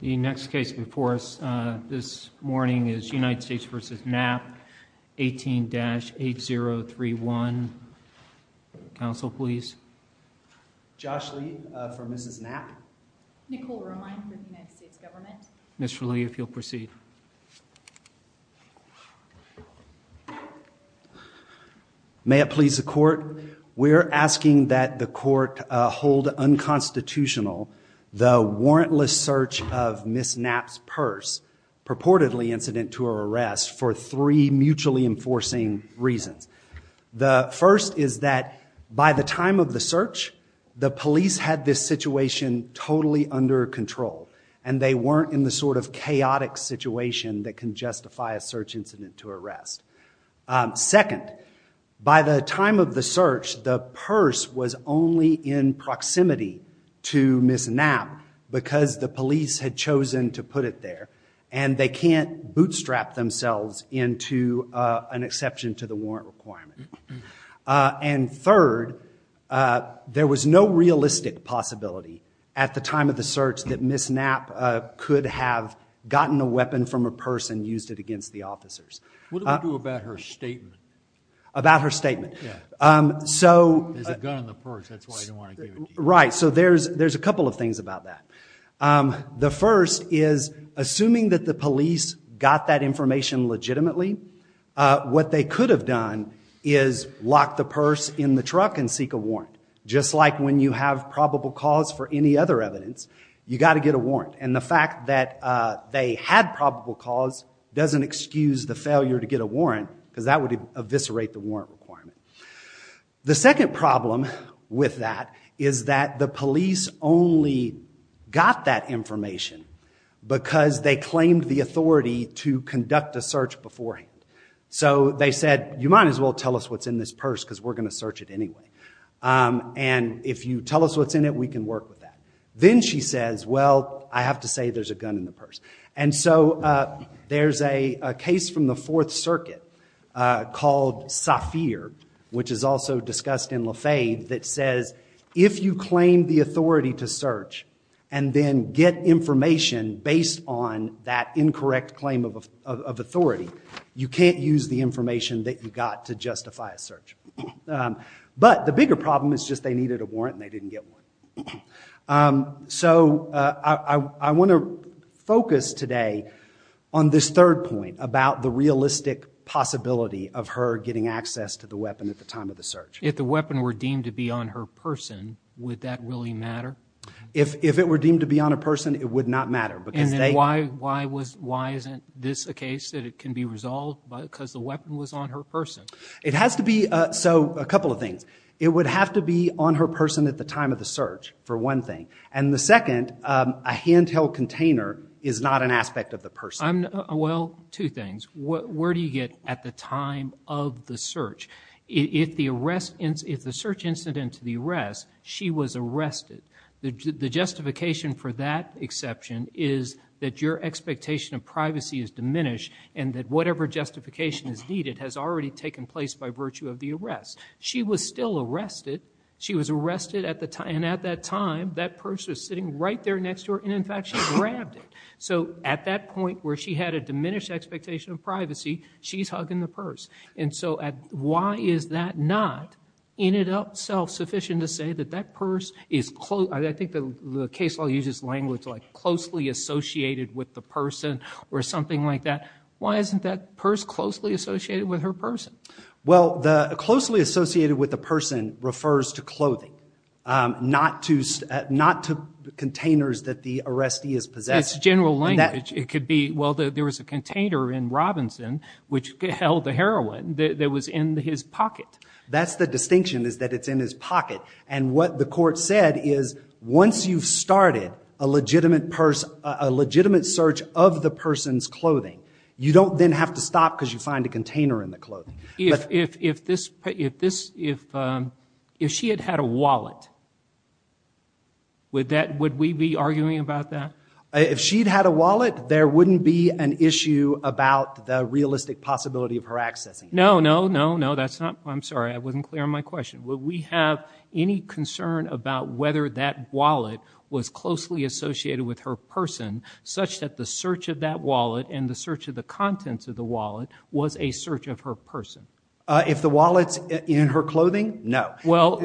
The next case before us this morning is United States v. Knapp, 18-8031. Counsel, please. Josh Lee for Mrs. Knapp. Nicole Romine for the United States Government. Mr. Lee, if you'll proceed. May it please the court, we're asking that the court hold unconstitutional the warrantless search of Ms. Knapp's purse purportedly incident to her arrest for three mutually enforcing reasons. The first is that by the time of the search, the police had this situation totally under control and they weren't in the sort of chaotic situation that can justify a search incident to arrest. Second, by the time of the search, the purse was only in proximity to Ms. Knapp because the police had chosen to put it there and they can't bootstrap themselves into an exception to the warrant requirement. And third, there was no realistic possibility at the time of the search that Ms. Knapp could have gotten a weapon from a purse and used it against the officers. What do we do about her statement? About her statement? Yeah. There's a gun in the purse, that's why I didn't want to give it to you. Right, so there's a couple of things about that. The first is, assuming that the police got that information legitimately, what they could have done is lock the purse in the truck and seek a warrant. Just like when you have probable cause for any other evidence, you've got to get a warrant. And the fact that they had probable cause doesn't excuse the failure to get a warrant because that would eviscerate the warrant requirement. The second problem with that is that the police only got that information because they claimed the authority to conduct a search beforehand. So they said, you might as well tell us what's in this purse because we're going to search it anyway. And if you tell us what's in it, we can work with that. Then she says, well, I have to say there's a gun in the purse. And so there's a case from the Fourth Circuit called Safir, which is also discussed in Lafayette, that says if you claim the authority to search and then get information based on that incorrect claim of authority, you can't use the information that you got to justify a search. But the bigger problem is just they needed a warrant and they didn't get one. So I want to focus today on this third point about the realistic possibility of her getting access to the weapon at the time of the search. If the weapon were deemed to be on her person, would that really matter? If it were deemed to be on a person, it would not matter. And then why isn't this a case that it can be resolved because the weapon was on her person? It has to be. So a couple of things. It would have to be on her person at the time of the search for one thing. And the second, a handheld container is not an aspect of the person. Well, two things. Where do you get at the time of the search? If the search incident to the arrest, she was arrested. The justification for that exception is that your expectation of privacy is diminished and that whatever justification is needed has already taken place by virtue of the arrest. She was still arrested. She was arrested at the time. And at that time, that purse was sitting right there next to her. And in fact, she grabbed it. So at that point where she had a diminished expectation of privacy, she's hugging the purse. And so why is that not in itself sufficient to say that that purse is close? I think the case law uses language like closely associated with the person or something like that. Why isn't that purse closely associated with her person? Well, the closely associated with the person refers to clothing, not to containers that the arrestee is possessed. It's general language. It could be, well, there was a container in Robinson which held the heroin that was in his pocket. That's the distinction is that it's in his pocket. And what the court said is once you've started a legitimate search of the person's clothing, you don't then have to stop because you find a container in the clothing. If she had had a wallet, would we be arguing about that? If she'd had a wallet, there wouldn't be an issue about the realistic possibility of her accessing it. No, no, no, no. I'm sorry. I wasn't clear on my question. Would we have any concern about whether that wallet was closely associated with her person such that the search of that wallet and the search of the contents of the wallet was a search of her person? If the wallet's in her clothing, no. Well,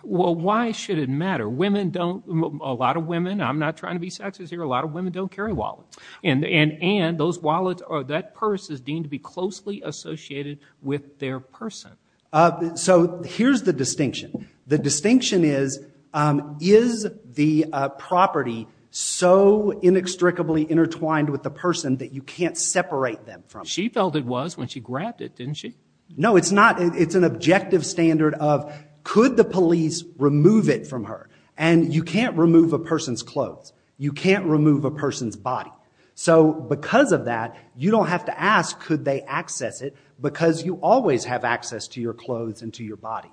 why should it matter? Women don't, a lot of women, I'm not trying to be sexist here, a lot of women don't carry wallets. And those wallets or that purse is deemed to be closely associated with their person. So here's the distinction. The distinction is, is the property so inextricably intertwined with the person that you can't separate them from it? She felt it was when she grabbed it, didn't she? No, it's not. It's an objective standard of could the police remove it from her? And you can't remove a person's clothes. You can't remove a person's body. So because of that, you don't have to ask, could they access it? Because you always have access to your clothes and to your body.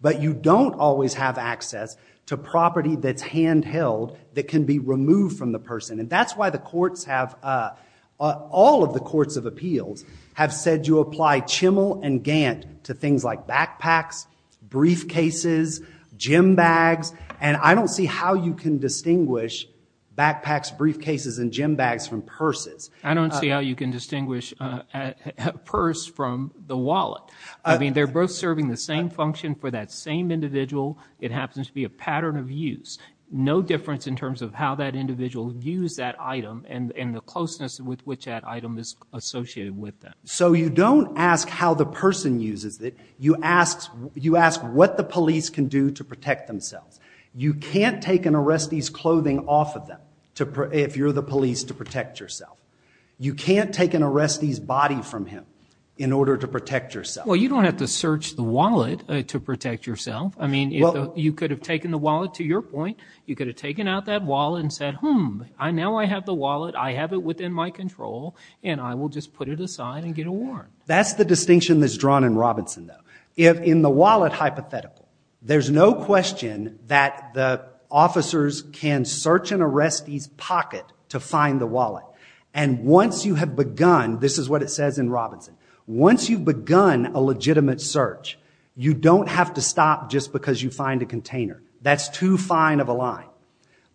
But you don't always have access to property that's handheld that can be removed from the person. And that's why the courts have, all of the courts of appeals have said you apply chimmel and gant to things like backpacks, briefcases, gym bags. And I don't see how you can distinguish backpacks, briefcases, and gym bags from purses. I don't see how you can distinguish a purse from the wallet. I mean, they're both serving the same function for that same individual. It happens to be a pattern of use. No difference in terms of how that individual used that item and the closeness with which that item is associated with them. So you don't ask how the person uses it. You ask what the police can do to protect themselves. You can't take an arrestee's clothing off of them if you're the police to protect yourself. You can't take an arrestee's body from him in order to protect yourself. Well, you don't have to search the wallet to protect yourself. I mean, you could have taken the wallet, to your point, you could have taken out that wallet and said, hmm, now I have the wallet, I have it within my control, and I will just put it aside and get it worn. That's the distinction that's drawn in Robinson, though. In the wallet hypothetical, there's no question that the officers can search an arrestee's pocket to find the wallet. And once you have begun, this is what it says in Robinson, once you've begun a legitimate search, you don't have to stop just because you find a container. That's too fine of a line.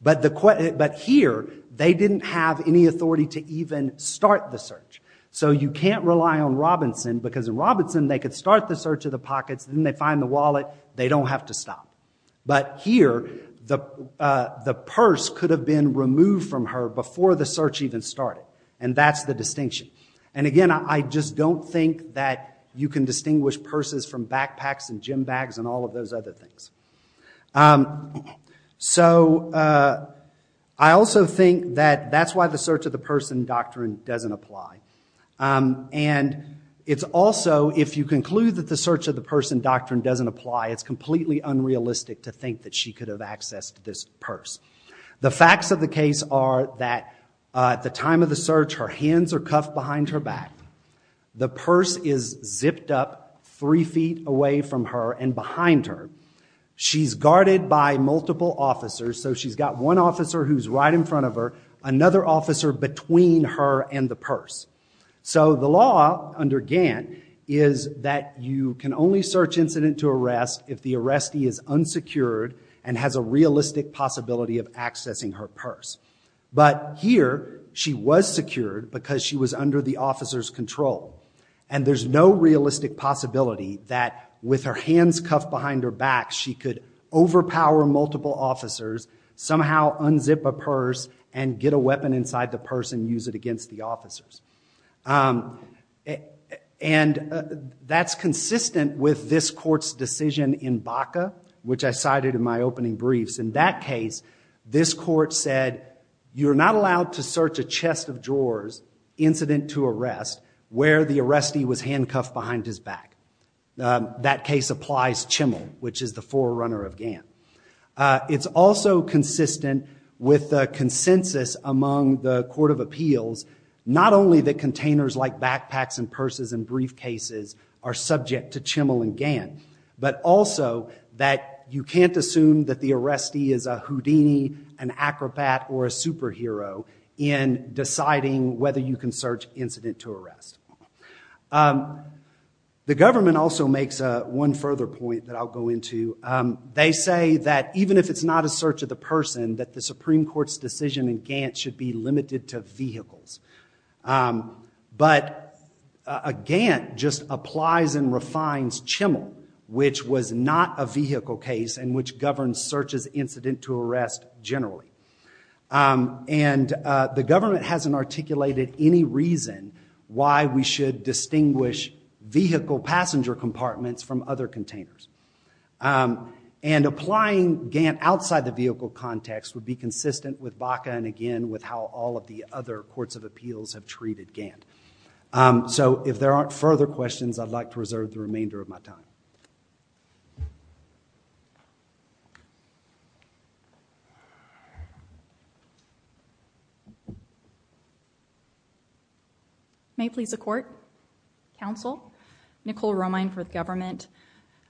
But here, they didn't have any authority to even start the search. So you can't rely on Robinson because in Robinson, they could start the search of the pockets, then they find the wallet, they don't have to stop. But here, the purse could have been removed from her before the search even started, and that's the distinction. And again, I just don't think that you can distinguish purses from backpacks and gym bags and all of those other things. So I also think that that's why the search of the purse doctrine doesn't apply. And it's to conclude that the search of the purse doctrine doesn't apply, it's completely unrealistic to think that she could have accessed this purse. The facts of the case are that at the time of the search, her hands are cuffed behind her back. The purse is zipped up three feet away from her and behind her. She's guarded by multiple officers, so she's got one officer who's right in front of her, another officer between her and the purse. So the law under Gant is that you can only search incident to arrest if the arrestee is unsecured and has a realistic possibility of accessing her purse. But here, she was secured because she was under the officer's control. And there's no realistic possibility that with her hands cuffed behind her back, she could overpower multiple officers, somehow unzip a purse, and get a weapon inside the purse and use it against the officers. And that's consistent with this court's decision in Baca, which I cited in my opening briefs. In that case, this court said, you're not allowed to search a chest of drawers, incident to arrest, where the arrestee was handcuffed behind his back. That case applies Chimmel, It's also consistent with the consensus among the Court of Appeals, not only that containers like backpacks and purses and briefcases are subject to Chimmel and Gant, but also that you can't assume that the arrestee is a Houdini, an acrobat, or a superhero in deciding whether you can search incident to arrest. The government also makes one further point that I'll go into. They say that even if it's not a search of the person, that the Supreme Court's decision in Gant should be limited to vehicles. But a Gant just applies and refines Chimmel, which was not a vehicle case, and which governs search as incident to arrest generally. And the government hasn't articulated any reason why we should distinguish vehicle passenger compartments from other containers. And applying Gant outside the vehicle context would be consistent with Baca, and again, with how all of the other Courts of Appeals have treated Gant. So if there aren't further questions, I'd like to reserve the remainder of my time. May it please the Court, Counsel, Nicole Romine for the government.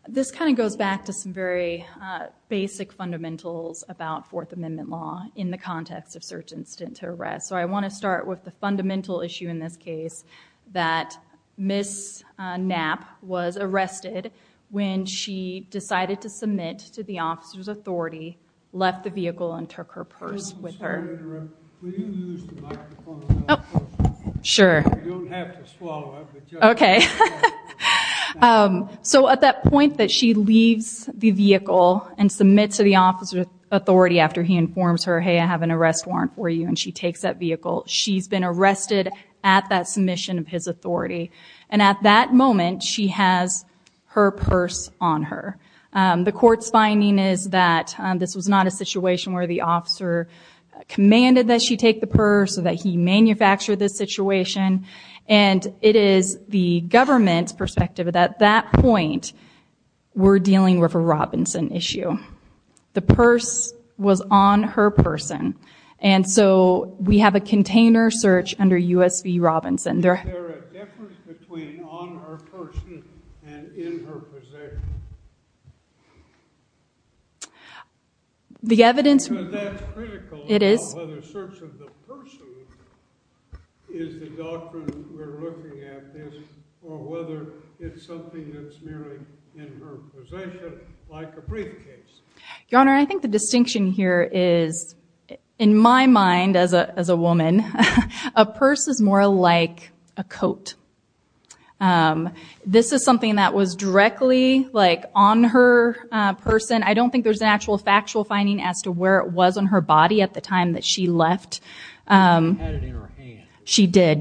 This kind of goes back to some very basic fundamentals about Fourth Amendment law in the context of search incident to arrest. So I want to start with the fundamental issue in this case, that Ms. Knapp was arrested when she decided to submit to the officer's authority, left the vehicle, and took her purse. So at that point that she leaves the vehicle and submits to the officer's authority after he informs her, hey, I have an arrest warrant for you, and she takes that vehicle, she's been arrested at that submission of his authority. And at that moment, she has her purse on her. The Court's finding is that this was not a situation where the officer commanded that she take the purse, or that he manufactured this situation, and it is the government's perspective that at that point, we're dealing with a Robinson issue. The purse was on her person, and so we have a container search under U.S. v. Robinson. Is there a difference between on her person and in her possession? The evidence... So that's critical about whether search of the person is the doctrine we're looking at this, or whether it's something that's merely in her possession, like a briefcase. Your Honor, I think the distinction here is, in my mind as a woman, a purse is more like a coat. This is something that was directly on her person. I don't think there's an actual factual finding as to where it was on her body at the time that she left. She had it in her hand. She did.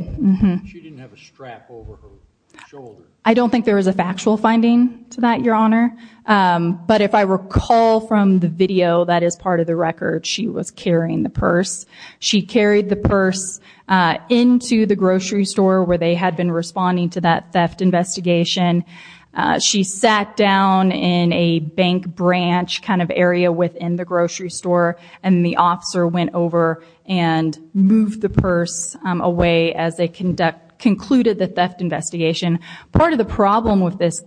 She didn't have a strap over her shoulder. I don't think there was a factual finding to that, Your Honor. But if I recall from the video that is part of the record, she was carrying the purse. She carried the purse into the grocery store where they had been responding to that theft investigation. She sat down in a bank branch kind of area within the grocery store, and the officer went over and moved the purse away as they concluded the theft investigation. Part of the problem with this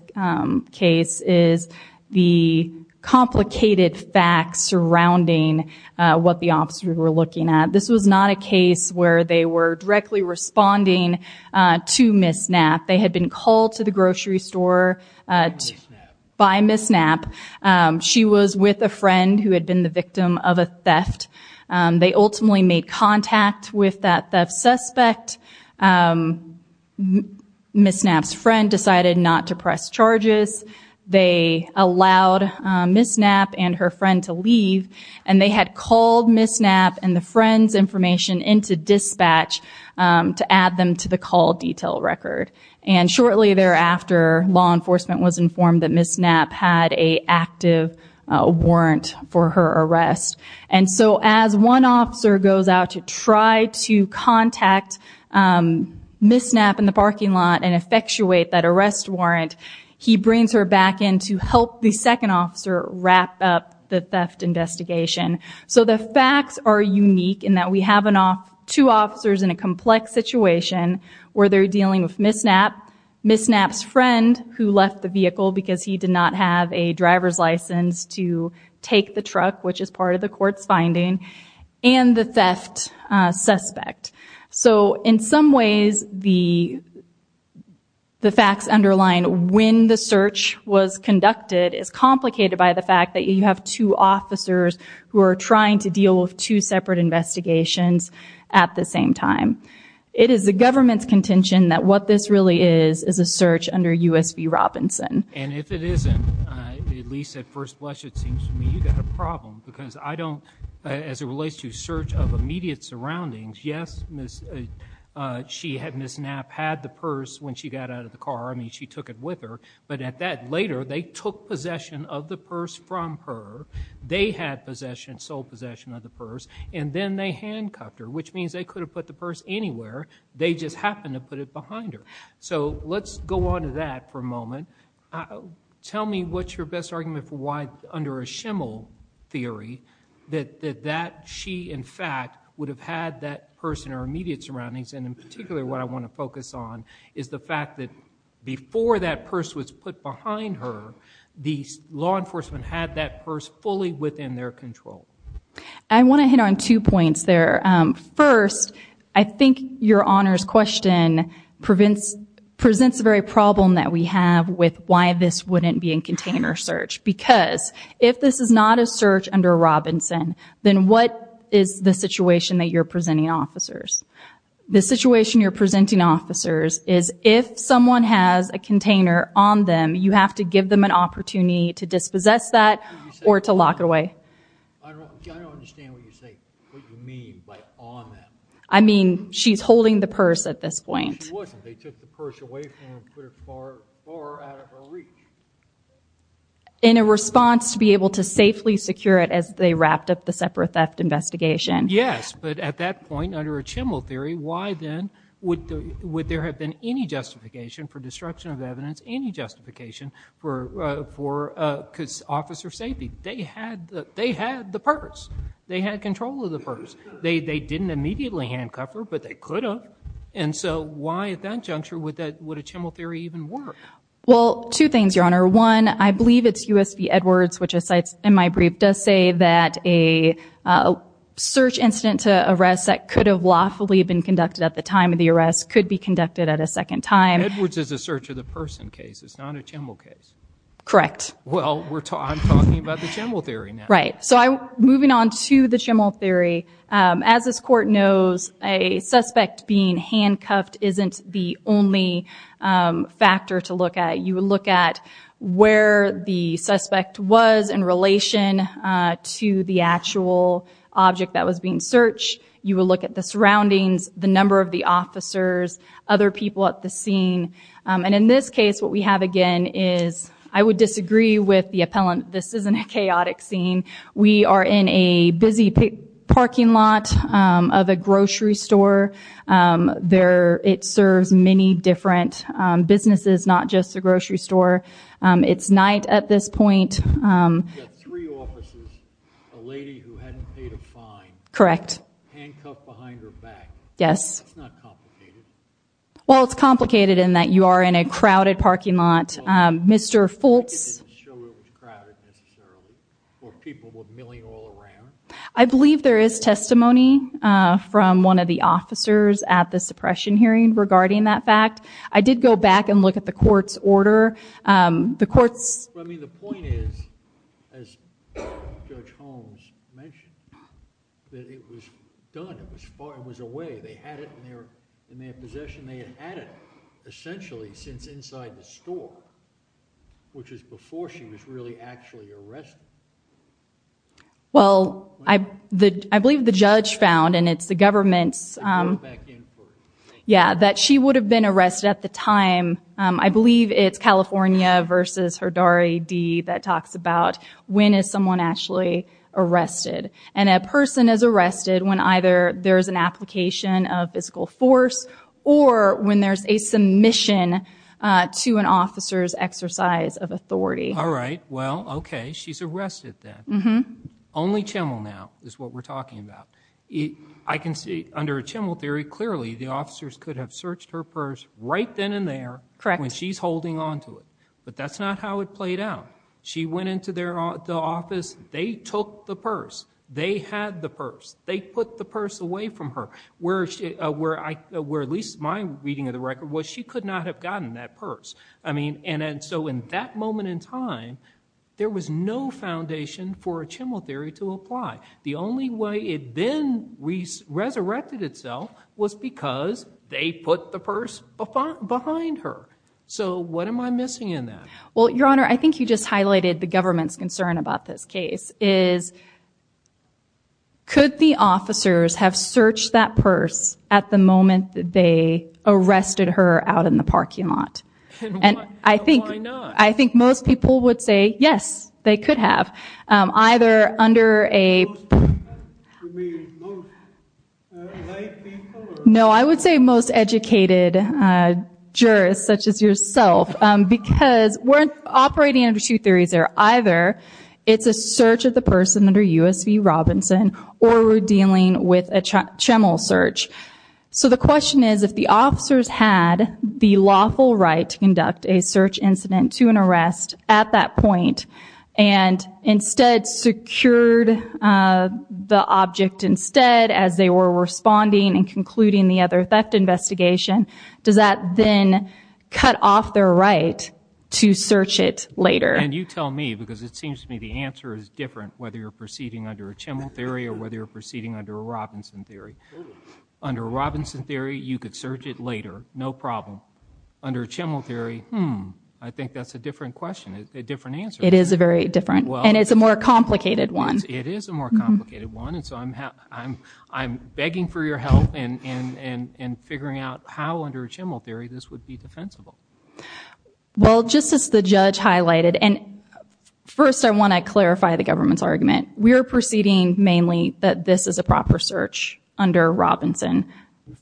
case is the complicated facts surrounding what the officers were looking at. This was not a case where they were directly responding to Ms. Knapp. They had been called to the grocery store by Ms. Knapp. She was with a friend who had been the victim of a theft. They ultimately made contact with that theft suspect. Ms. Knapp's friend decided not to press charges. They allowed Ms. Knapp and her friend to leave, and they had called Ms. Knapp and the friend's information into dispatch to add them to the call detail record. Shortly thereafter, law enforcement was informed that Ms. Knapp had an active warrant for her arrest. As one officer goes out to try to contact Ms. Knapp in the parking lot and effectuate that arrest warrant, he brings her back in to help the second officer wrap up the theft investigation. The facts are unique in that we have two officers in a complex situation where they're dealing with Ms. Knapp, Ms. Knapp's friend who left the vehicle because he did not have a driver's license to take the truck, which is part of the court's finding, and the theft suspect. So in some ways, the facts underlying when the search was conducted is complicated by the fact that you have two officers who are trying to deal with two separate investigations at the same time. It is the government's contention that what this really is is a search under U.S. v. Robinson. And if it isn't, at least at first blush, it seems to me you've got a problem because I don't, as it relates to search of immediate surroundings, yes, Ms. Knapp had the purse when she got out of the car. I mean, she took it with her. But at that later, they took possession of the purse from her. They had possession, sole possession of the purse. And then they handcuffed her, which means they could have put the purse anywhere. They just happened to put it behind her. So let's go on to that for a moment. Tell me what's your best argument for why, under a shimmel theory, that she, in fact, would have had that purse in her immediate surroundings. And in particular, what I want to focus on is the fact that before that purse was put behind her, the law enforcement had that purse fully within their control. I want to hit on two points there. First, I think your Honor's question presents the very problem that we have with why this wouldn't be in container search. Because if this is not a search under Robinson, then what is the situation that you're presenting officers? The situation you're presenting officers is if someone has a container on them, you have to give them an opportunity to dispossess that or to lock it away. I don't understand what you mean by on them. I mean, she's holding the purse at this point. She wasn't. They took the purse away from her and put it far out of her reach. In a response to be able to safely secure it as they wrapped up the separate theft investigation. Yes, but at that point, under a shimmel theory, why then would there have been any justification for destruction of evidence, any justification for officer safety? They had the purse. They had control of the purse. They didn't immediately handcuff her, but they could have. And so why at that juncture would a shimmel theory even work? Well, two things, Your Honor. One, I believe it's U.S. v. Edwards, which in my brief does say that a search incident to arrest that could have lawfully been conducted at the time of the arrest could be conducted at a second time. Edwards is a search of the person case. It's not a shimmel case. Correct. Well, I'm talking about the shimmel theory now. Right. So moving on to the shimmel theory, as this Court knows, a suspect being handcuffed isn't the only factor to look at. You look at where the suspect was in relation to the actual object that was being searched. You will look at the surroundings, the number of the officers, other people at the scene. And in this case, what we have again is, I would disagree with the appellant, this isn't a chaotic scene. We are in a busy parking lot of a grocery store. It serves many different businesses, not just the grocery store. It's night at this point. You've got three officers, a lady who hadn't paid a fine, handcuffed behind her back. Yes. It's not complicated. Well, it's complicated in that you are in a crowded parking lot. Mr. Fultz. I didn't show it was crowded necessarily, or people were milling all around. I believe there is testimony from one of the officers at the suppression hearing regarding that fact. I did go back and look at the Court's order. I mean, the point is, as Judge Holmes mentioned, that it was done, it was far, it was away. They had it in their possession. They had had it essentially since inside the store, which was before she was really actually arrested. Well, I believe the judge found, and it's the government's... I went back in for it. Yeah, that she would have been arrested at the time. I believe it's California versus Herdari D that talks about when is someone actually arrested. And a person is arrested when either there is an application of physical force, or when there's a submission to an officer's exercise of authority. All right. Well, okay. She's arrested then. Only Chimmel now is what we're talking about. I can see under a Chimmel theory, clearly the officers could have searched her purse right then and there when she's holding on to it. But that's not how it played out. She went into the office. They took the purse. They had the purse. They put the purse away from her, where at least my reading of the record was she could not have gotten that purse. I mean, and so in that moment in time, there was no foundation for a Chimmel theory to apply. The only way it then resurrected itself was because they put the purse behind her. So what am I missing in that? Well, Your Honor, I think you just highlighted the government's concern about this case. Could the officers have searched that purse at the moment they arrested her out in the parking lot? Why not? I think most people would say yes, they could have. Most people? You mean most lay people? No, I would say most educated jurists, such as yourself, because we're operating under two theories here. Either it's a search of the purse under U.S.C. Robinson or we're dealing with a Chimmel search. So the question is if the officers had the lawful right to conduct a search incident to an arrest at that point and instead secured the object instead as they were responding and concluding the other theft investigation, does that then cut off their right to search it later? And you tell me because it seems to me the answer is different, whether you're proceeding under a Chimmel theory or whether you're proceeding under a Robinson theory. Under a Robinson theory, you could search it later, no problem. Under a Chimmel theory, hmm, I think that's a different question, a different answer. It is a very different, and it's a more complicated one. It is a more complicated one, and so I'm begging for your help in figuring out how under a Chimmel theory this would be defensible. Well, just as the judge highlighted, and first I want to clarify the government's argument. We are proceeding mainly that this is a proper search under Robinson.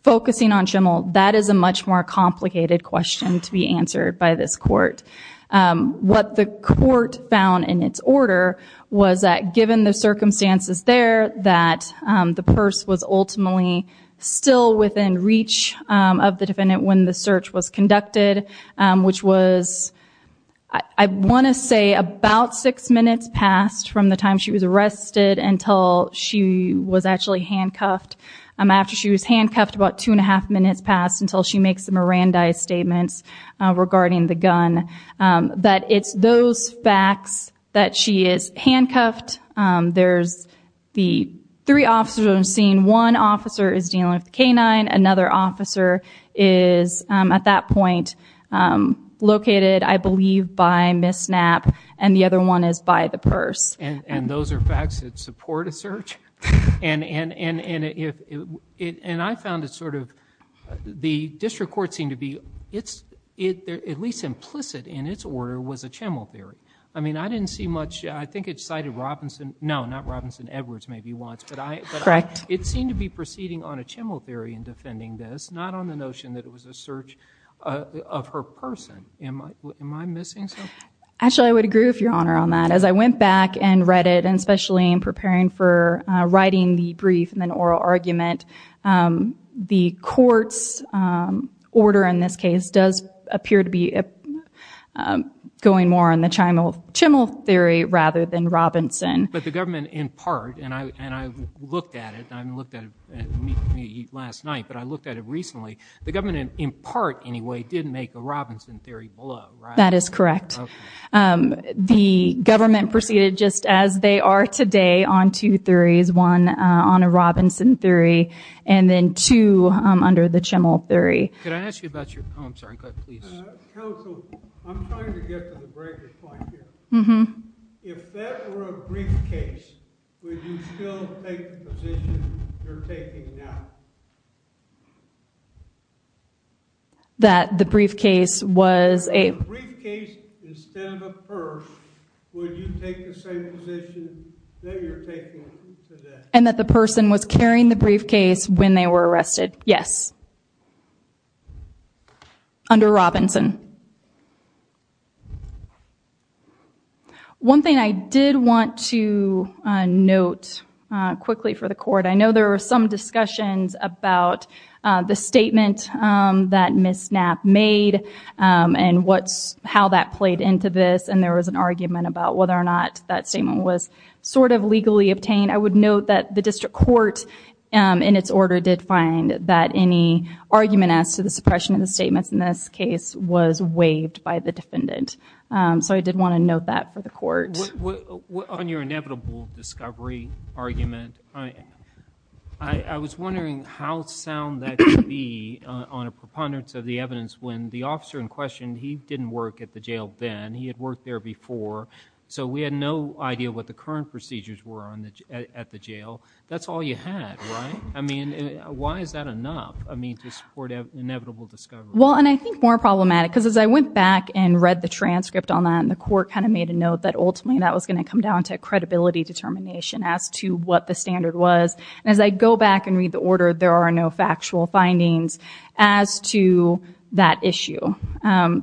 Focusing on Chimmel, that is a much more complicated question to be answered by this court. What the court found in its order was that given the circumstances there, that the purse was ultimately still within reach of the defendant when the search was conducted, which was, I want to say, about six minutes past from the time she was arrested until she was actually handcuffed. After she was handcuffed, about two and a half minutes passed until she makes the Mirandai statements regarding the gun. But it's those facts that she is handcuffed. There's the three officers I'm seeing. One officer is dealing with the canine. Another officer is, at that point, located, I believe, by Ms. Knapp, and the other one is by the purse. And those are facts that support a search? And I found it sort of, the district court seemed to be, at least implicit in its order, was a Chimmel theory. I mean, I didn't see much. I think it cited Robinson, no, not Robinson, Edwards maybe once. Correct. It seemed to be proceeding on a Chimmel theory in defending this, not on the notion that it was a search of her person. Am I missing something? Actually, I would agree with your Honor on that. As I went back and read it, and especially in preparing for writing the brief and then oral argument, the court's order in this case does appear to be going more on the Chimmel theory rather than Robinson. But the government, in part, and I looked at it, and I looked at it last night, but I looked at it recently, the government, in part, anyway, did make a Robinson theory below, right? That is correct. The government proceeded just as they are today on two theories, one on a Robinson theory and then two under the Chimmel theory. Could I ask you about your, oh, I'm sorry, go ahead, please. Counsel, I'm trying to get to the breaker point here. If that were a briefcase, would you still take the position you're taking now? That the briefcase was a? If it was a briefcase instead of a purse, would you take the same position that you're taking today? And that the person was carrying the briefcase when they were arrested, yes. Under Robinson. One thing I did want to note quickly for the court, I know there were some discussions about the statement that Ms. Knapp made and how that played into this, and there was an argument about whether or not that statement was sort of legally obtained. I would note that the district court, in its order, did find that any argument as to the suppression of the statements in this case was waived by the defendant. So I did want to note that for the court. On your inevitable discovery argument, I was wondering how sound that could be on a preponderance of the evidence when the officer in question, he didn't work at the jail then, he had worked there before, so we had no idea what the current procedures were at the jail. That's all you had, right? I mean, why is that enough to support inevitable discovery? Well, and I think more problematic, because as I went back and read the transcript on that, and the court kind of made a note that ultimately that was going to come down to a credibility determination as to what the standard was. And as I go back and read the order, there are no factual findings as to that issue.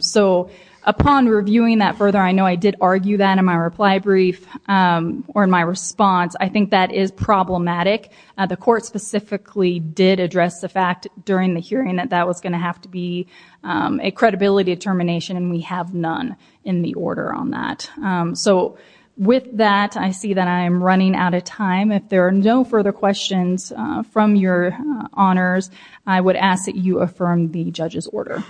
So upon reviewing that further, I know I did argue that in my reply brief or in my response. I think that is problematic. The court specifically did address the fact during the hearing that that was going to have to be a credibility determination, and we have none in the order on that. So with that, I see that I am running out of time. If there are no further questions from your honors, I would ask that you affirm the judge's order.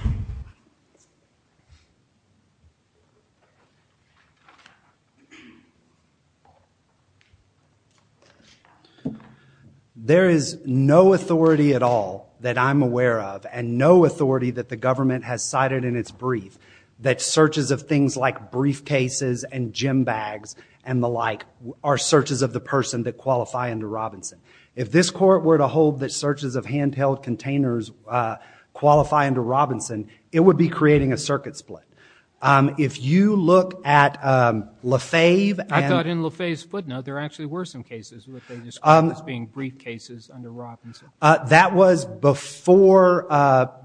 There is no authority at all that I'm aware of and no authority that the government has cited in its brief that searches of things like briefcases and gym bags and the like are searches of the person that qualify under Robinson. If this court were to hold that searches of handheld containers qualify under Robinson, it would be creating a circuit split. If you look at LaFave and... I thought in LaFave's footnote there actually were some cases that they described as being briefcases under Robinson. That was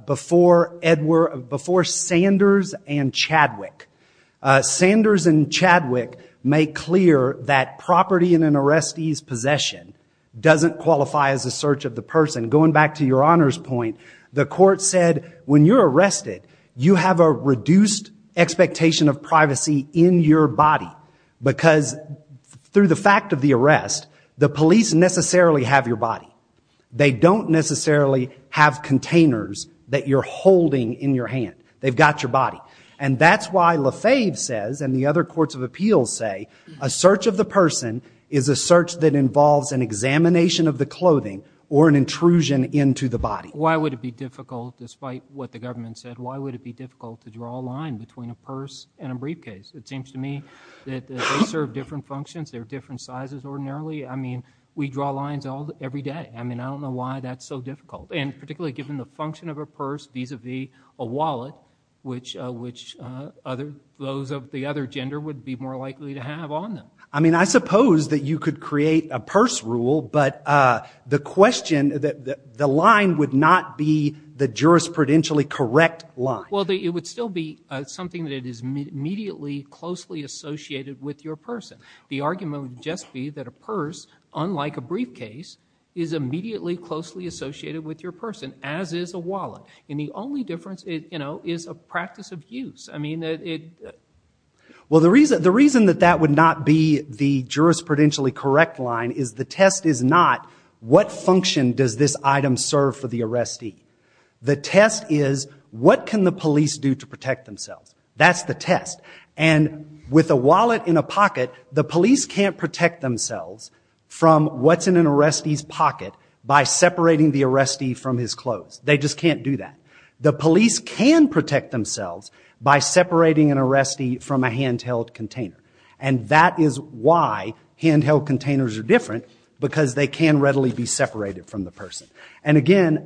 before Sanders and Chadwick. Sanders and Chadwick make clear that property in an arrestee's possession doesn't qualify as a search of the person. Going back to your honors point, the court said when you're arrested, you have a reduced expectation of privacy in your body because through the fact of the arrest, the police necessarily have your body. They don't necessarily have containers that you're holding in your hand. They've got your body. And that's why LaFave says and the other courts of appeals say a search of the person is a search that involves an examination of the clothing or an intrusion into the body. Why would it be difficult, despite what the government said, why would it be difficult to draw a line between a purse and a briefcase? It seems to me that they serve different functions. They're different sizes ordinarily. I mean, we draw lines every day. I mean, I don't know why that's so difficult, and particularly given the function of a purse vis-à-vis a wallet, which those of the other gender would be more likely to have on them. I mean, I suppose that you could create a purse rule, but the line would not be the jurisprudentially correct line. Well, it would still be something that is immediately closely associated with your person. The argument would just be that a purse, unlike a briefcase, is immediately closely associated with your person, as is a wallet. And the only difference is a practice of use. Well, the reason that that would not be the jurisprudentially correct line is the test is not what function does this item serve for the arrestee. The test is what can the police do to protect themselves. That's the test. And with a wallet in a pocket, the police can't protect themselves from what's in an arrestee's pocket by separating the arrestee from his clothes. They just can't do that. The police can protect themselves by separating an arrestee from a handheld container. And that is why handheld containers are different, because they can readily be separated from the person. And again,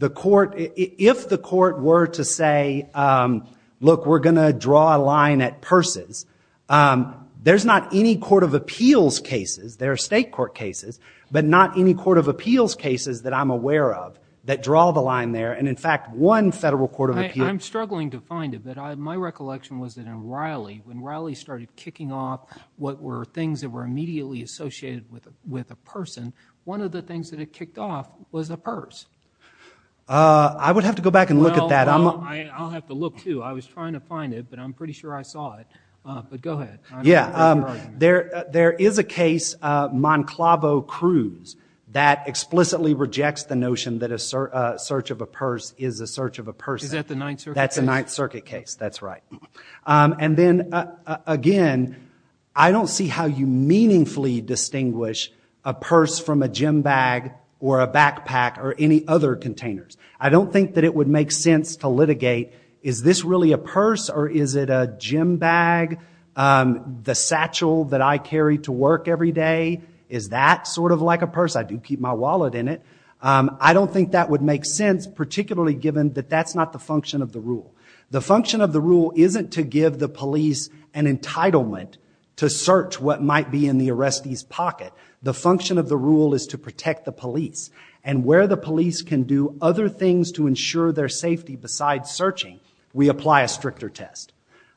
if the court were to say, look, we're going to draw a line at purses, there's not any court of appeals cases. There are state court cases, but not any court of appeals cases that I'm aware of that draw the line there. And in fact, one federal court of appeals... I'm struggling to find it, but my recollection was that in Riley, when Riley started kicking off what were things that were immediately associated with a person, one of the things that it kicked off was a purse. I would have to go back and look at that. Well, I'll have to look, too. I was trying to find it, but I'm pretty sure I saw it. But go ahead. Yeah, there is a case, Monclavo-Cruz, that explicitly rejects the notion that a search of a purse is a search of a person. Is that the Ninth Circuit case? That's the Ninth Circuit case, that's right. And then, again, I don't see how you meaningfully distinguish a purse from a gym bag or a backpack or any other containers. I don't think that it would make sense to litigate, is this really a purse or is it a gym bag? The satchel that I carry to work every day, is that sort of like a purse? I do keep my wallet in it. I don't think that would make sense, particularly given that that's not the function of the rule. The function of the rule isn't to give the police an entitlement to search what might be in the arrestee's pocket. The function of the rule is to protect the police and where the police can do other things to ensure their safety besides searching, we apply a stricter test.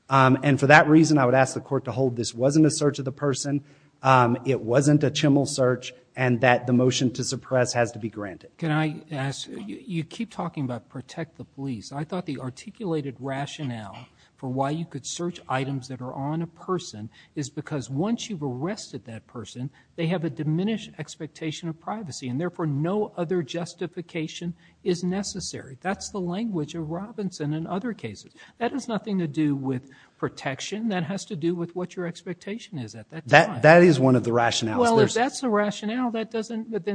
And for that reason, I would ask the court to hold this wasn't a search of the person, it wasn't a chimmel search, and that the motion to suppress has to be granted. Can I ask, you keep talking about protect the police. I thought the articulated rationale for why you could search items that are on a person is because once you've arrested that person, they have a diminished expectation of privacy and therefore no other justification is necessary. That's the language of Robinson in other cases. That has nothing to do with protection. That has to do with what your expectation is at that time. That is one of the rationales. Well, if that's the rationale, then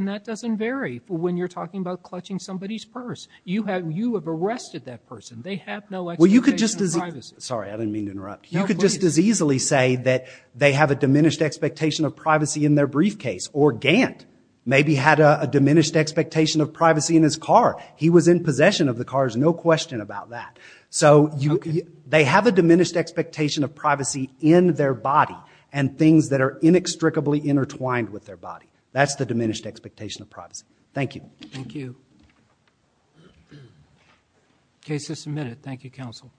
that doesn't vary when you're talking about clutching somebody's purse. You have arrested that person. They have no expectation of privacy. Sorry, I didn't mean to interrupt. You could just as easily say that they have a diminished expectation of privacy in their briefcase or Gant maybe had a diminished expectation of privacy in his car. He was in possession of the car. There's no question about that. So they have a diminished expectation of privacy in their body and things that are inextricably intertwined with their body. That's the diminished expectation of privacy. Thank you. Thank you. Case is submitted. Thank you, counsel.